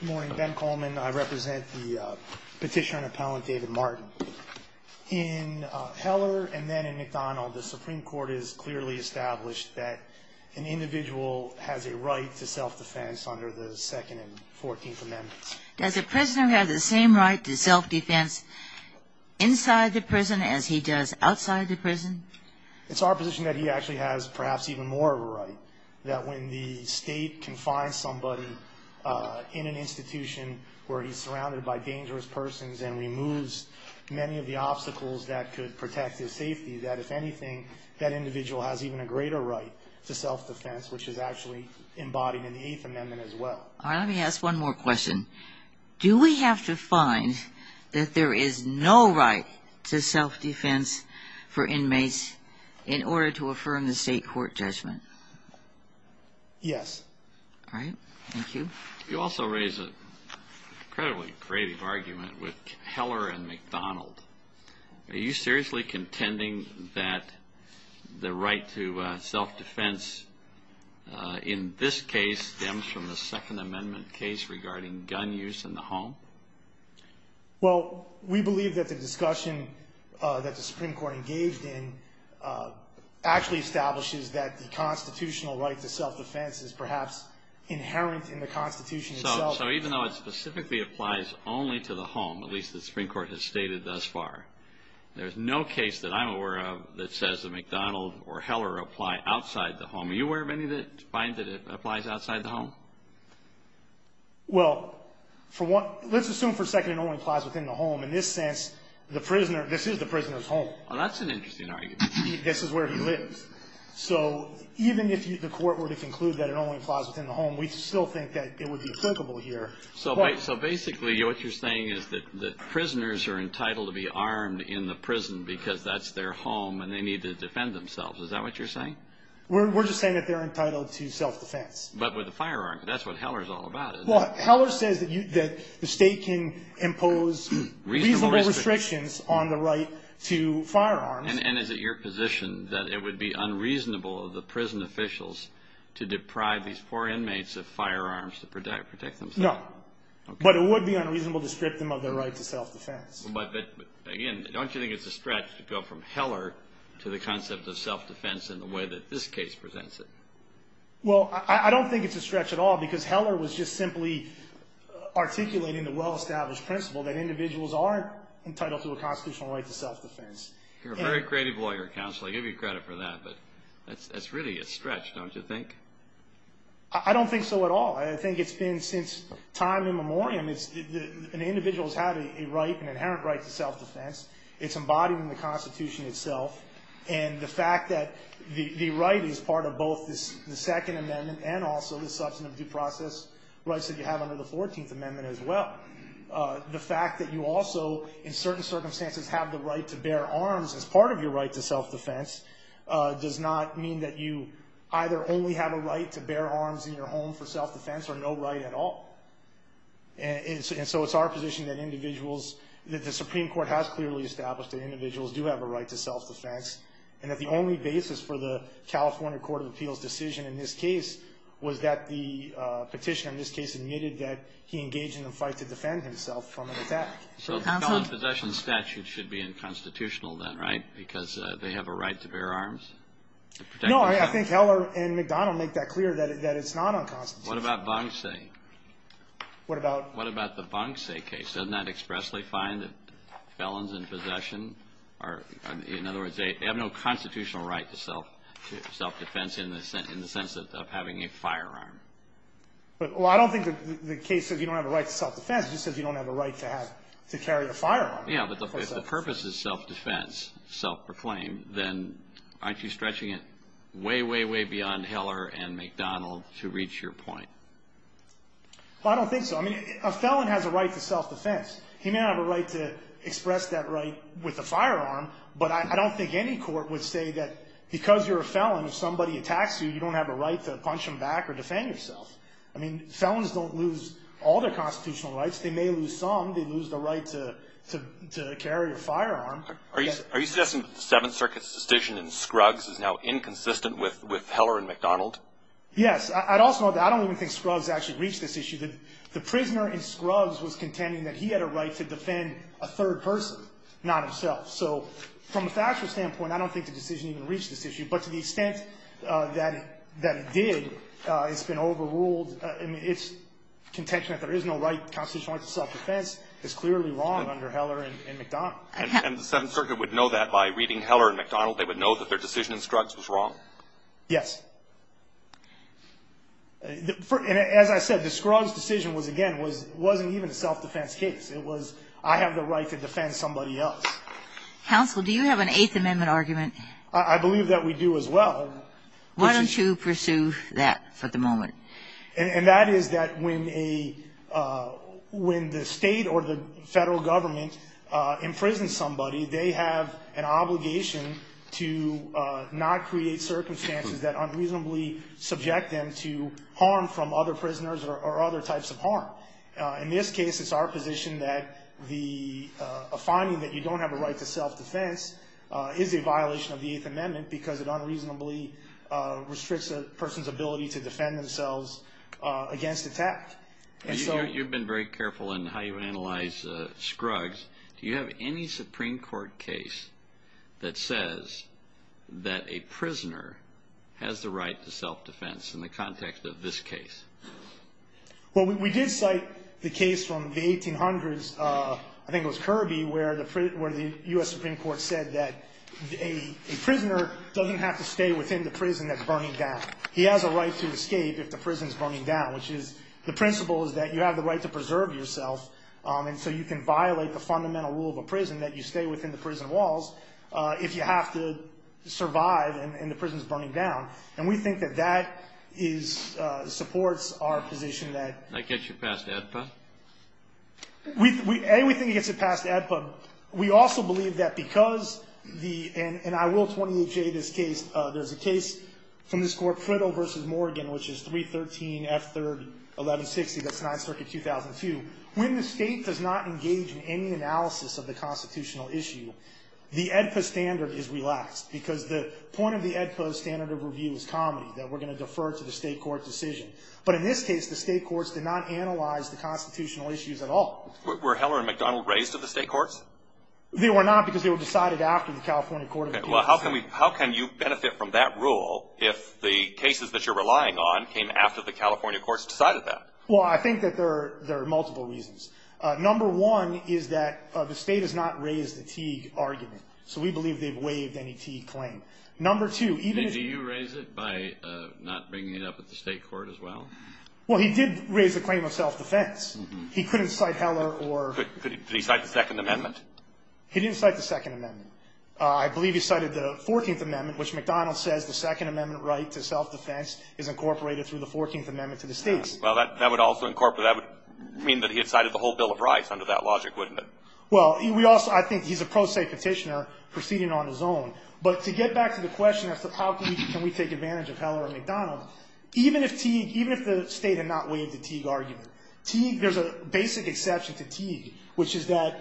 Good morning, Ben Coleman. I represent the petitioner and appellant David Martin. In Heller and then in McDonald, the Supreme Court has clearly established that an individual has a right to self-defense under the Second and Fourteenth Amendments. Does a prisoner have the same right to self-defense inside the prison as he does outside the prison? It's our position that he actually has perhaps even more of a right, that when the state confines somebody in an institution where he's surrounded by dangerous persons and removes many of the obstacles that could protect his safety, that if anything that individual has even a greater right to self-defense, which is actually embodied in the Eighth Amendment as well. All right, let me ask one more question. Do we have to find that there is no right to self-defense for inmates in order to affirm the state court judgment? Yes. All right, thank you. You also raise an incredibly creative argument with Heller and McDonald. Are you seriously contending that the right to self-defense in this case stems from the Second Amendment case regarding gun use in the home? Well, we believe that the discussion that the Supreme Court engaged in actually establishes that the constitutional right to self-defense is perhaps inherent in the Constitution itself. So even though it specifically applies only to the home, at least the Supreme Court has stated thus far, there's no case that I'm aware of that says that McDonald or Heller apply outside the home. Are you aware of any that find that it applies outside the home? Well, let's assume for a second it only applies within the home. In this sense, this is the prisoner's home. That's an interesting argument. This is where he lives. So even if the court were to conclude that it only applies within the home, we still think that it would be applicable here. So basically what you're saying is that prisoners are entitled to be armed in the prison Is that what you're saying? We're just saying that they're entitled to self-defense. But with a firearm. That's what Heller's all about. Well, Heller says that the state can impose reasonable restrictions on the right to firearms. And is it your position that it would be unreasonable of the prison officials to deprive these poor inmates of firearms to protect themselves? No. But it would be unreasonable to strip them of their right to self-defense. But again, don't you think it's a stretch to go from Heller to the concept of self-defense in the way that this case presents it? Well, I don't think it's a stretch at all. Because Heller was just simply articulating the well-established principle that individuals are entitled to a constitutional right to self-defense. You're a very creative lawyer, counsel. I give you credit for that. But that's really a stretch, don't you think? I don't think so at all. I think it's been since time immemorial. An individual has had a right, an inherent right to self-defense. It's embodied in the Constitution itself. And the fact that the right is part of both the Second Amendment and also the substantive due process rights that you have under the Fourteenth Amendment as well. The fact that you also, in certain circumstances, have the right to bear arms as part of your right to self-defense does not mean that you either only have a right to bear arms in your home for self-defense or no right at all. And so it's our position that individuals, that the Supreme Court has clearly established that individuals do have a right to self-defense and that the only basis for the California Court of Appeals' decision in this case was that the petitioner in this case admitted that he engaged in a fight to defend himself from an attack. So the felon's possession statute should be unconstitutional then, right? Because they have a right to bear arms? No, I think Heller and McDonnell make that clear, that it's not unconstitutional. What about Vonsay? What about? What about the Vonsay case? Doesn't that expressly find that felons in possession are, in other words, they have no constitutional right to self-defense in the sense of having a firearm? Well, I don't think the case says you don't have a right to self-defense. It just says you don't have a right to carry a firearm. Yeah, but if the purpose is self-defense, self-proclaim, then aren't you stretching it way, way, way beyond Heller and McDonnell to reach your point? Well, I don't think so. I mean, a felon has a right to self-defense. He may have a right to express that right with a firearm, but I don't think any court would say that because you're a felon, if somebody attacks you, you don't have a right to punch them back or defend yourself. I mean, felons don't lose all their constitutional rights. They may lose some. They lose the right to carry a firearm. Are you suggesting that the Seventh Circuit's decision in Scruggs is now inconsistent with Heller and McDonnell? Yes. I don't even think Scruggs actually reached this issue. The prisoner in Scruggs was contending that he had a right to defend a third person, not himself. So from a factual standpoint, I don't think the decision even reached this issue. But to the extent that it did, it's been overruled. I mean, it's contention that there is no right, constitutional right to self-defense is clearly wrong under Heller and McDonnell. And the Seventh Circuit would know that by reading Heller and McDonnell? They would know that their decision in Scruggs was wrong? Yes. As I said, the Scruggs decision, again, wasn't even a self-defense case. It was, I have the right to defend somebody else. Counsel, do you have an Eighth Amendment argument? I believe that we do as well. Why don't you pursue that for the moment? And that is that when the state or the federal government imprisons somebody, they have an obligation to not create circumstances that unreasonably subject them to harm from other prisoners or other types of harm. In this case, it's our position that the finding that you don't have a right to self-defense is a violation of the Eighth Amendment because it unreasonably restricts a person's ability to defend themselves against attack. You've been very careful in how you analyze Scruggs. Do you have any Supreme Court case that says that a prisoner has the right to self-defense in the context of this case? Well, we did cite the case from the 1800s, I think it was Kirby, where the U.S. Supreme Court said that a prisoner doesn't have to stay within the prison that's burning down. He has a right to escape if the prison's burning down, which is the principle is that you have the right to preserve yourself, and so you can violate the fundamental rule of a prison that you stay within the prison walls if you have to survive and the prison's burning down. And we think that that supports our position that— That gets you past AEDPA? A, we think it gets it past AEDPA. We also believe that because the—and I will 28J this case. There's a case from this court, Priddle v. Morgan, which is 313 F. 3rd, 1160. That's 9th Circuit, 2002. When the state does not engage in any analysis of the constitutional issue, the AEDPA standard is relaxed because the point of the AEDPA standard of review is comedy, that we're going to defer to the state court decision. But in this case, the state courts did not analyze the constitutional issues at all. Were Heller and McDonald raised at the state courts? They were not because they were decided after the California Court of Appeals. Well, how can you benefit from that rule if the cases that you're relying on came after the California courts decided that? Well, I think that there are multiple reasons. Number one is that the state has not raised the Teague argument, so we believe they've waived any Teague claim. Number two, even if— Did you raise it by not bringing it up at the state court as well? Well, he did raise the claim of self-defense. He couldn't cite Heller or— Could he cite the Second Amendment? He didn't cite the Second Amendment. I believe he cited the Fourteenth Amendment, which McDonald says the Second Amendment right to self-defense is incorporated through the Fourteenth Amendment to the states. Well, that would also incorporate— that would mean that he had cited the whole Bill of Rights under that logic, wouldn't it? Well, we also—I think he's a pro se Petitioner proceeding on his own. But to get back to the question as to how can we take advantage of Heller and McDonald, even if Teague—even if the state had not waived the Teague argument, Teague—there's a basic exception to Teague, which is that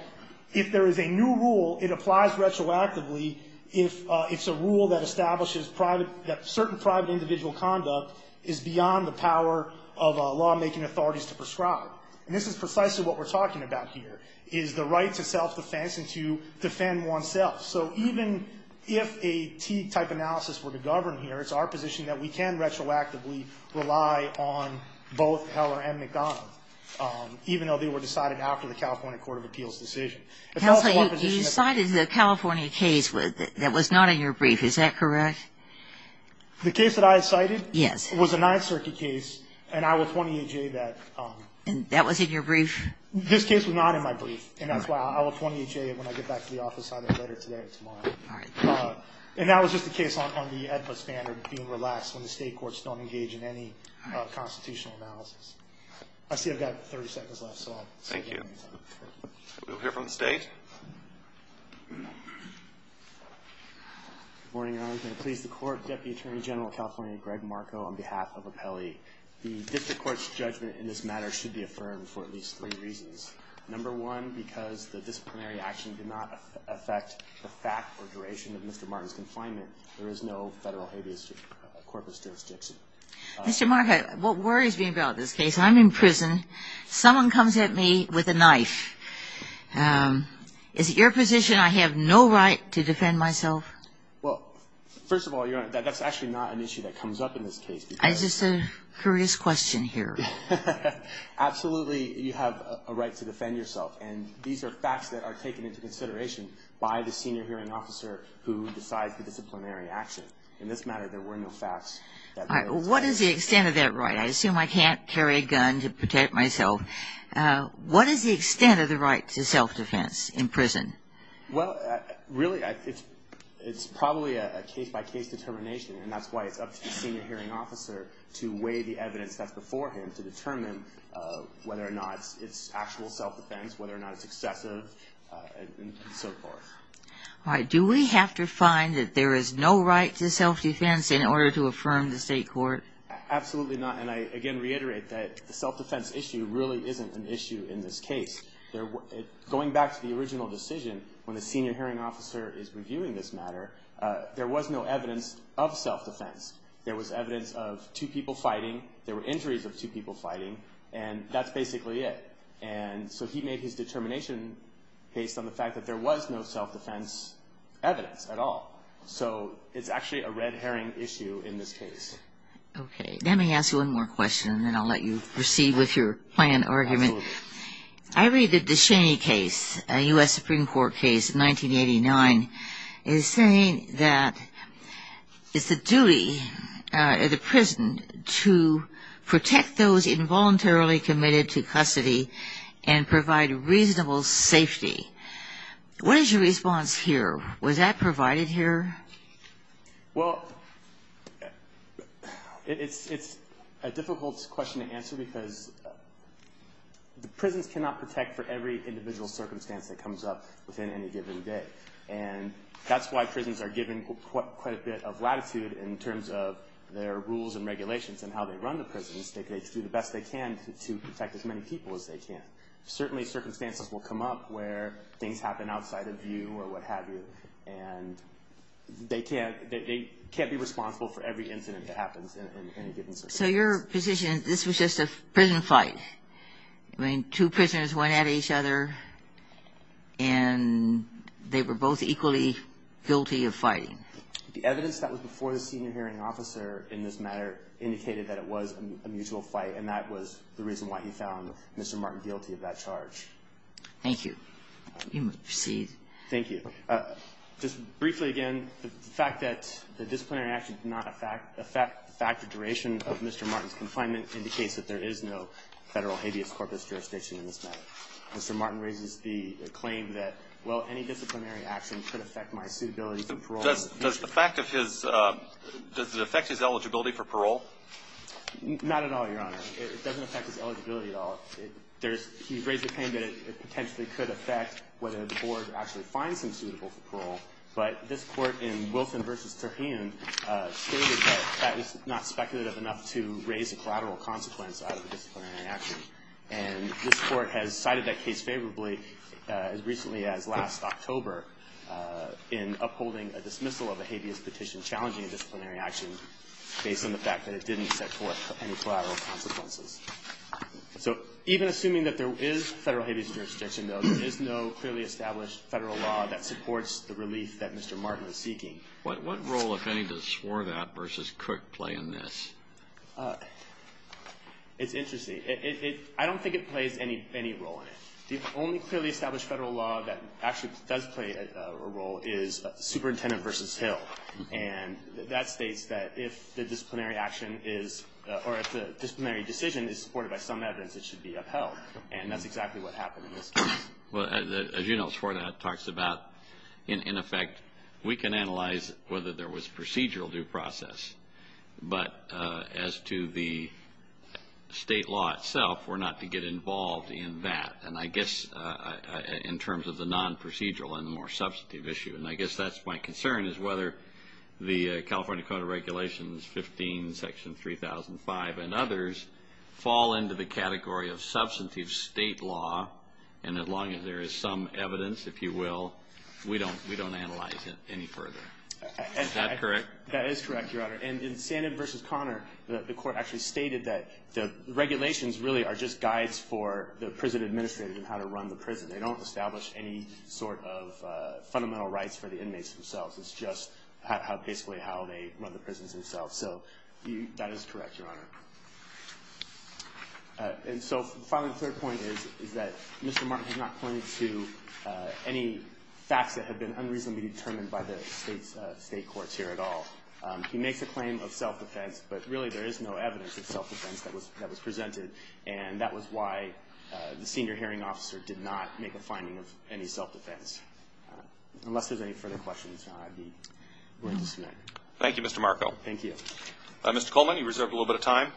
if there is a new rule, it applies retroactively if it's a rule that establishes private—that certain private individual conduct is beyond the power of lawmaking authorities to prescribe. And this is precisely what we're talking about here, is the right to self-defense and to defend oneself. So even if a Teague-type analysis were to govern here, it's our position that we can retroactively rely on both Heller and McDonald, even though they were decided after the California Court of Appeals' decision. If that's one position— Counsel, you cited the California case that was not in your brief. Is that correct? The case that I cited? Yes. It was a Ninth Circuit case, and I will 20A-J that— That was in your brief? This case was not in my brief, and that's why I will 20A-J it when I get back to the office either later today or tomorrow. All right. And that was just a case on the EDPA standard being relaxed when the state courts don't engage in any constitutional analysis. All right. I see I've got 30 seconds left, so I'll— Thank you. We'll hear from the State. Good morning, Your Honor. Excuse me. Please, the Court, Deputy Attorney General of California Greg Marco on behalf of Apelli. The district court's judgment in this matter should be affirmed for at least three reasons. Number one, because the disciplinary action did not affect the fact or duration of Mr. Martin's confinement. There is no federal habeas corpus jurisdiction. Mr. Marco, what worries me about this case, I'm in prison, someone comes at me with a knife. Is it your position I have no right to defend myself? Well, first of all, Your Honor, that's actually not an issue that comes up in this case. It's just a curious question here. Absolutely, you have a right to defend yourself, and these are facts that are taken into consideration by the senior hearing officer who decides the disciplinary action. In this matter, there were no facts. All right. Well, what is the extent of that right? I assume I can't carry a gun to protect myself. What is the extent of the right to self-defense in prison? Well, really, it's probably a case-by-case determination, and that's why it's up to the senior hearing officer to weigh the evidence that's before him to determine whether or not it's actual self-defense, whether or not it's excessive, and so forth. All right. Do we have to find that there is no right to self-defense in order to affirm the state court? Absolutely not. And I, again, reiterate that the self-defense issue really isn't an issue in this case. Going back to the original decision, when the senior hearing officer is reviewing this matter, there was no evidence of self-defense. There was evidence of two people fighting. There were injuries of two people fighting, and that's basically it. And so he made his determination based on the fact that there was no self-defense evidence at all. So it's actually a red herring issue in this case. Okay. Let me ask you one more question, and then I'll let you proceed with your planned argument. Absolutely. I read that the Cheney case, a U.S. Supreme Court case in 1989, is saying that it's the duty of the prison to protect those involuntarily committed to custody and provide reasonable safety. What is your response here? Was that provided here? Well, it's a difficult question to answer because the prisons cannot protect for every individual circumstance that comes up within any given day. And that's why prisons are given quite a bit of latitude in terms of their rules and regulations and how they run the prisons. They do the best they can to protect as many people as they can. Certainly circumstances will come up where things happen outside of view or what have you, and they can't be responsible for every incident that happens in any given circumstance. So your position is this was just a prison fight? I mean, two prisoners went at each other, and they were both equally guilty of fighting. The evidence that was before the senior hearing officer in this matter indicated that it was a mutual fight, and that was the reason why he found Mr. Martin guilty of that charge. Thank you. You may proceed. Thank you. Just briefly again, the fact that the disciplinary action did not affect the duration of Mr. Martin's confinement indicates that there is no federal habeas corpus jurisdiction in this matter. Mr. Martin raises the claim that, well, any disciplinary action could affect my suitability for parole. Does the fact of his ‑‑ does it affect his eligibility for parole? Not at all, Your Honor. It doesn't affect his eligibility at all. He raised the claim that it potentially could affect whether the board actually finds him suitable for parole, but this court in Wilson v. Terhan stated that that was not speculative enough to raise a collateral consequence out of a disciplinary action. And this court has cited that case favorably as recently as last October in upholding a dismissal of a habeas petition challenging a disciplinary action based on the fact that it didn't set forth any collateral consequences. So even assuming that there is federal habeas jurisdiction, though, there is no clearly established federal law that supports the relief that Mr. Martin is seeking. What role, if any, does Swore That v. Cook play in this? It's interesting. I don't think it plays any role in it. The only clearly established federal law that actually does play a role is Superintendent v. Hill. And that states that if the disciplinary action is or if the disciplinary decision is supported by some evidence, it should be upheld. And that's exactly what happened in this case. Well, as you know, Swore That talks about, in effect, we can analyze whether there was procedural due process, but as to the state law itself, we're not to get involved in that, and I guess in terms of the non-procedural and the more substantive issue. And I guess that's my concern is whether the California Code of Regulations 15, Section 3005, and others fall into the category of substantive state law. And as long as there is some evidence, if you will, we don't analyze it any further. Is that correct? That is correct, Your Honor. And in Sandin v. Connor, the Court actually stated that the regulations really are just guides for the prison administrator in how to run the prison. They don't establish any sort of fundamental rights for the inmates themselves. It's just basically how they run the prisons themselves. So that is correct, Your Honor. And so finally, the third point is that Mr. Martin has not pointed to any facts that have been unreasonably determined by the state courts here at all. He makes a claim of self-defense, but really there is no evidence of self-defense that was presented, and that was why the senior hearing officer did not make a finding of any self-defense. Unless there's any further questions, I'd be willing to submit. Thank you, Mr. Marco. Thank you. Mr. Coleman, you reserved a little bit of time.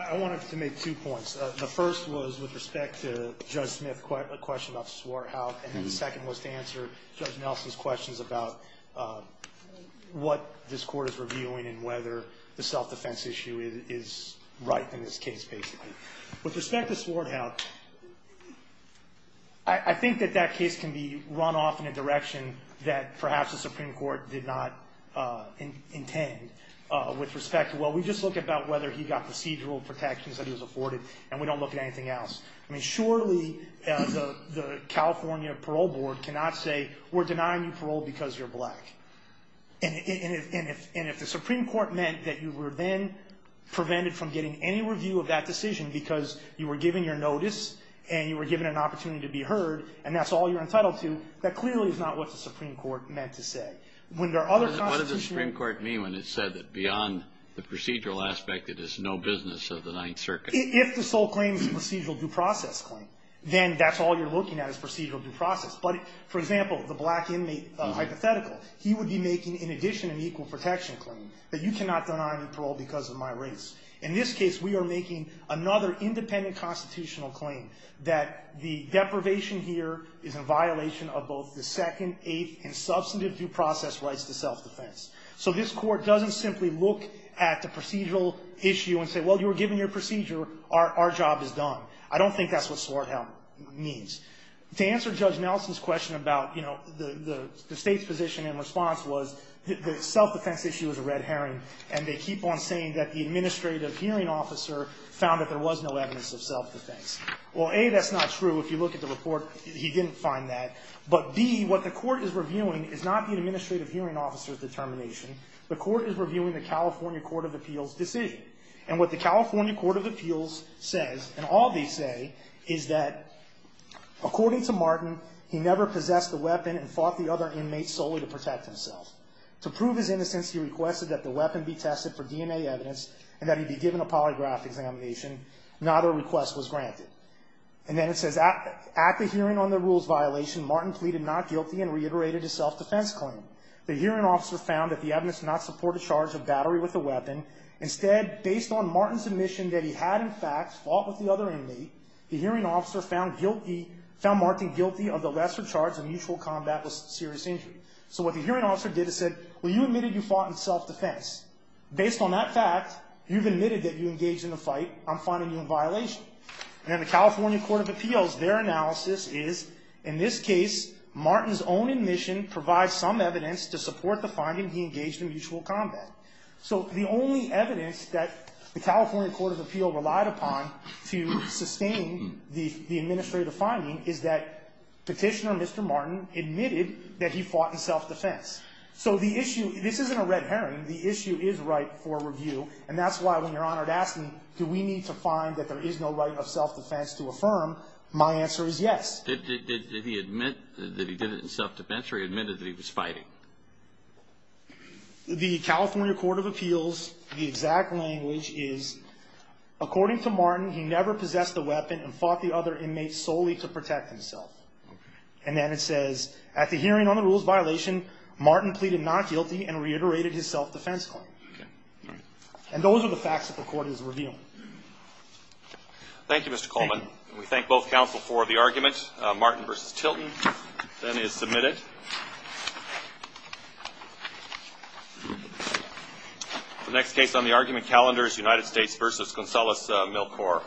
I wanted to make two points. The first was with respect to Judge Smith's question about Swarthout, and the second was to answer Judge Nelson's questions about what this Court is reviewing and whether the self-defense issue is right in this case, basically. With respect to Swarthout, I think that that case can be run off in a direction that perhaps the Supreme Court did not intend with respect to, well, we just look at whether he got procedural protections that he was afforded, and we don't look at anything else. I mean, surely the California Parole Board cannot say, we're denying you parole because you're black. And if the Supreme Court meant that you were then prevented from getting any review of that decision because you were given your notice and you were given an opportunity to be heard and that's all you're entitled to, that clearly is not what the Supreme Court meant to say. What does the Supreme Court mean when it said that beyond the procedural aspect, it is no business of the Ninth Circuit? If the sole claim is a procedural due process claim, then that's all you're looking at is procedural due process. But, for example, the black inmate hypothetical, he would be making in addition an equal protection claim, that you cannot deny me parole because of my race. In this case, we are making another independent constitutional claim that the deprivation here is in violation of both the second, eighth, and substantive due process rights to self-defense. So this court doesn't simply look at the procedural issue and say, well, you were given your procedure, our job is done. I don't think that's what Swarthout means. To answer Judge Nelson's question about, you know, the State's position in response was the self-defense issue is a red herring and they keep on saying that the administrative hearing officer found that there was no evidence of self-defense. Well, A, that's not true. If you look at the report, he didn't find that. But, B, what the court is reviewing is not the administrative hearing officer's determination. The court is reviewing the California Court of Appeals' decision. And what the California Court of Appeals says, and all they say, is that, according to Martin, he never possessed a weapon and fought the other inmates solely to protect himself. To prove his innocence, he requested that the weapon be tested for DNA evidence and that he be given a polygraph examination. Neither request was granted. And then it says, at the hearing on the rules violation, Martin pleaded not guilty and reiterated his self-defense claim. The hearing officer found that the evidence not support a charge of battery Instead, based on Martin's admission that he had, in fact, fought with the other inmate, the hearing officer found guilty, found Martin guilty of the lesser charge of mutual combat with serious injury. So what the hearing officer did is said, well, you admitted you fought in self-defense. Based on that fact, you've admitted that you engaged in a fight. I'm finding you in violation. And then the California Court of Appeals, their analysis is, in this case, Martin's own admission provides some evidence to support the finding he engaged in mutual combat. So the only evidence that the California Court of Appeals relied upon to sustain the administrative finding is that Petitioner Mr. Martin admitted that he fought in self-defense. So the issue, this isn't a red herring. The issue is right for review. And that's why when Your Honor asked me, do we need to find that there is no right of self-defense to affirm, my answer is yes. Did he admit that he did it in self-defense or he admitted that he was fighting? The California Court of Appeals, the exact language is, according to Martin, he never possessed a weapon and fought the other inmates solely to protect himself. And then it says, at the hearing on the rules violation, Martin pleaded not guilty and reiterated his self-defense claim. And those are the facts that the Court is reviewing. Thank you, Mr. Coleman. We thank both counsel for the argument. Martin v. Tilton then is submitted. The next case on the argument calendar is United States v. Gonzales-Milkor.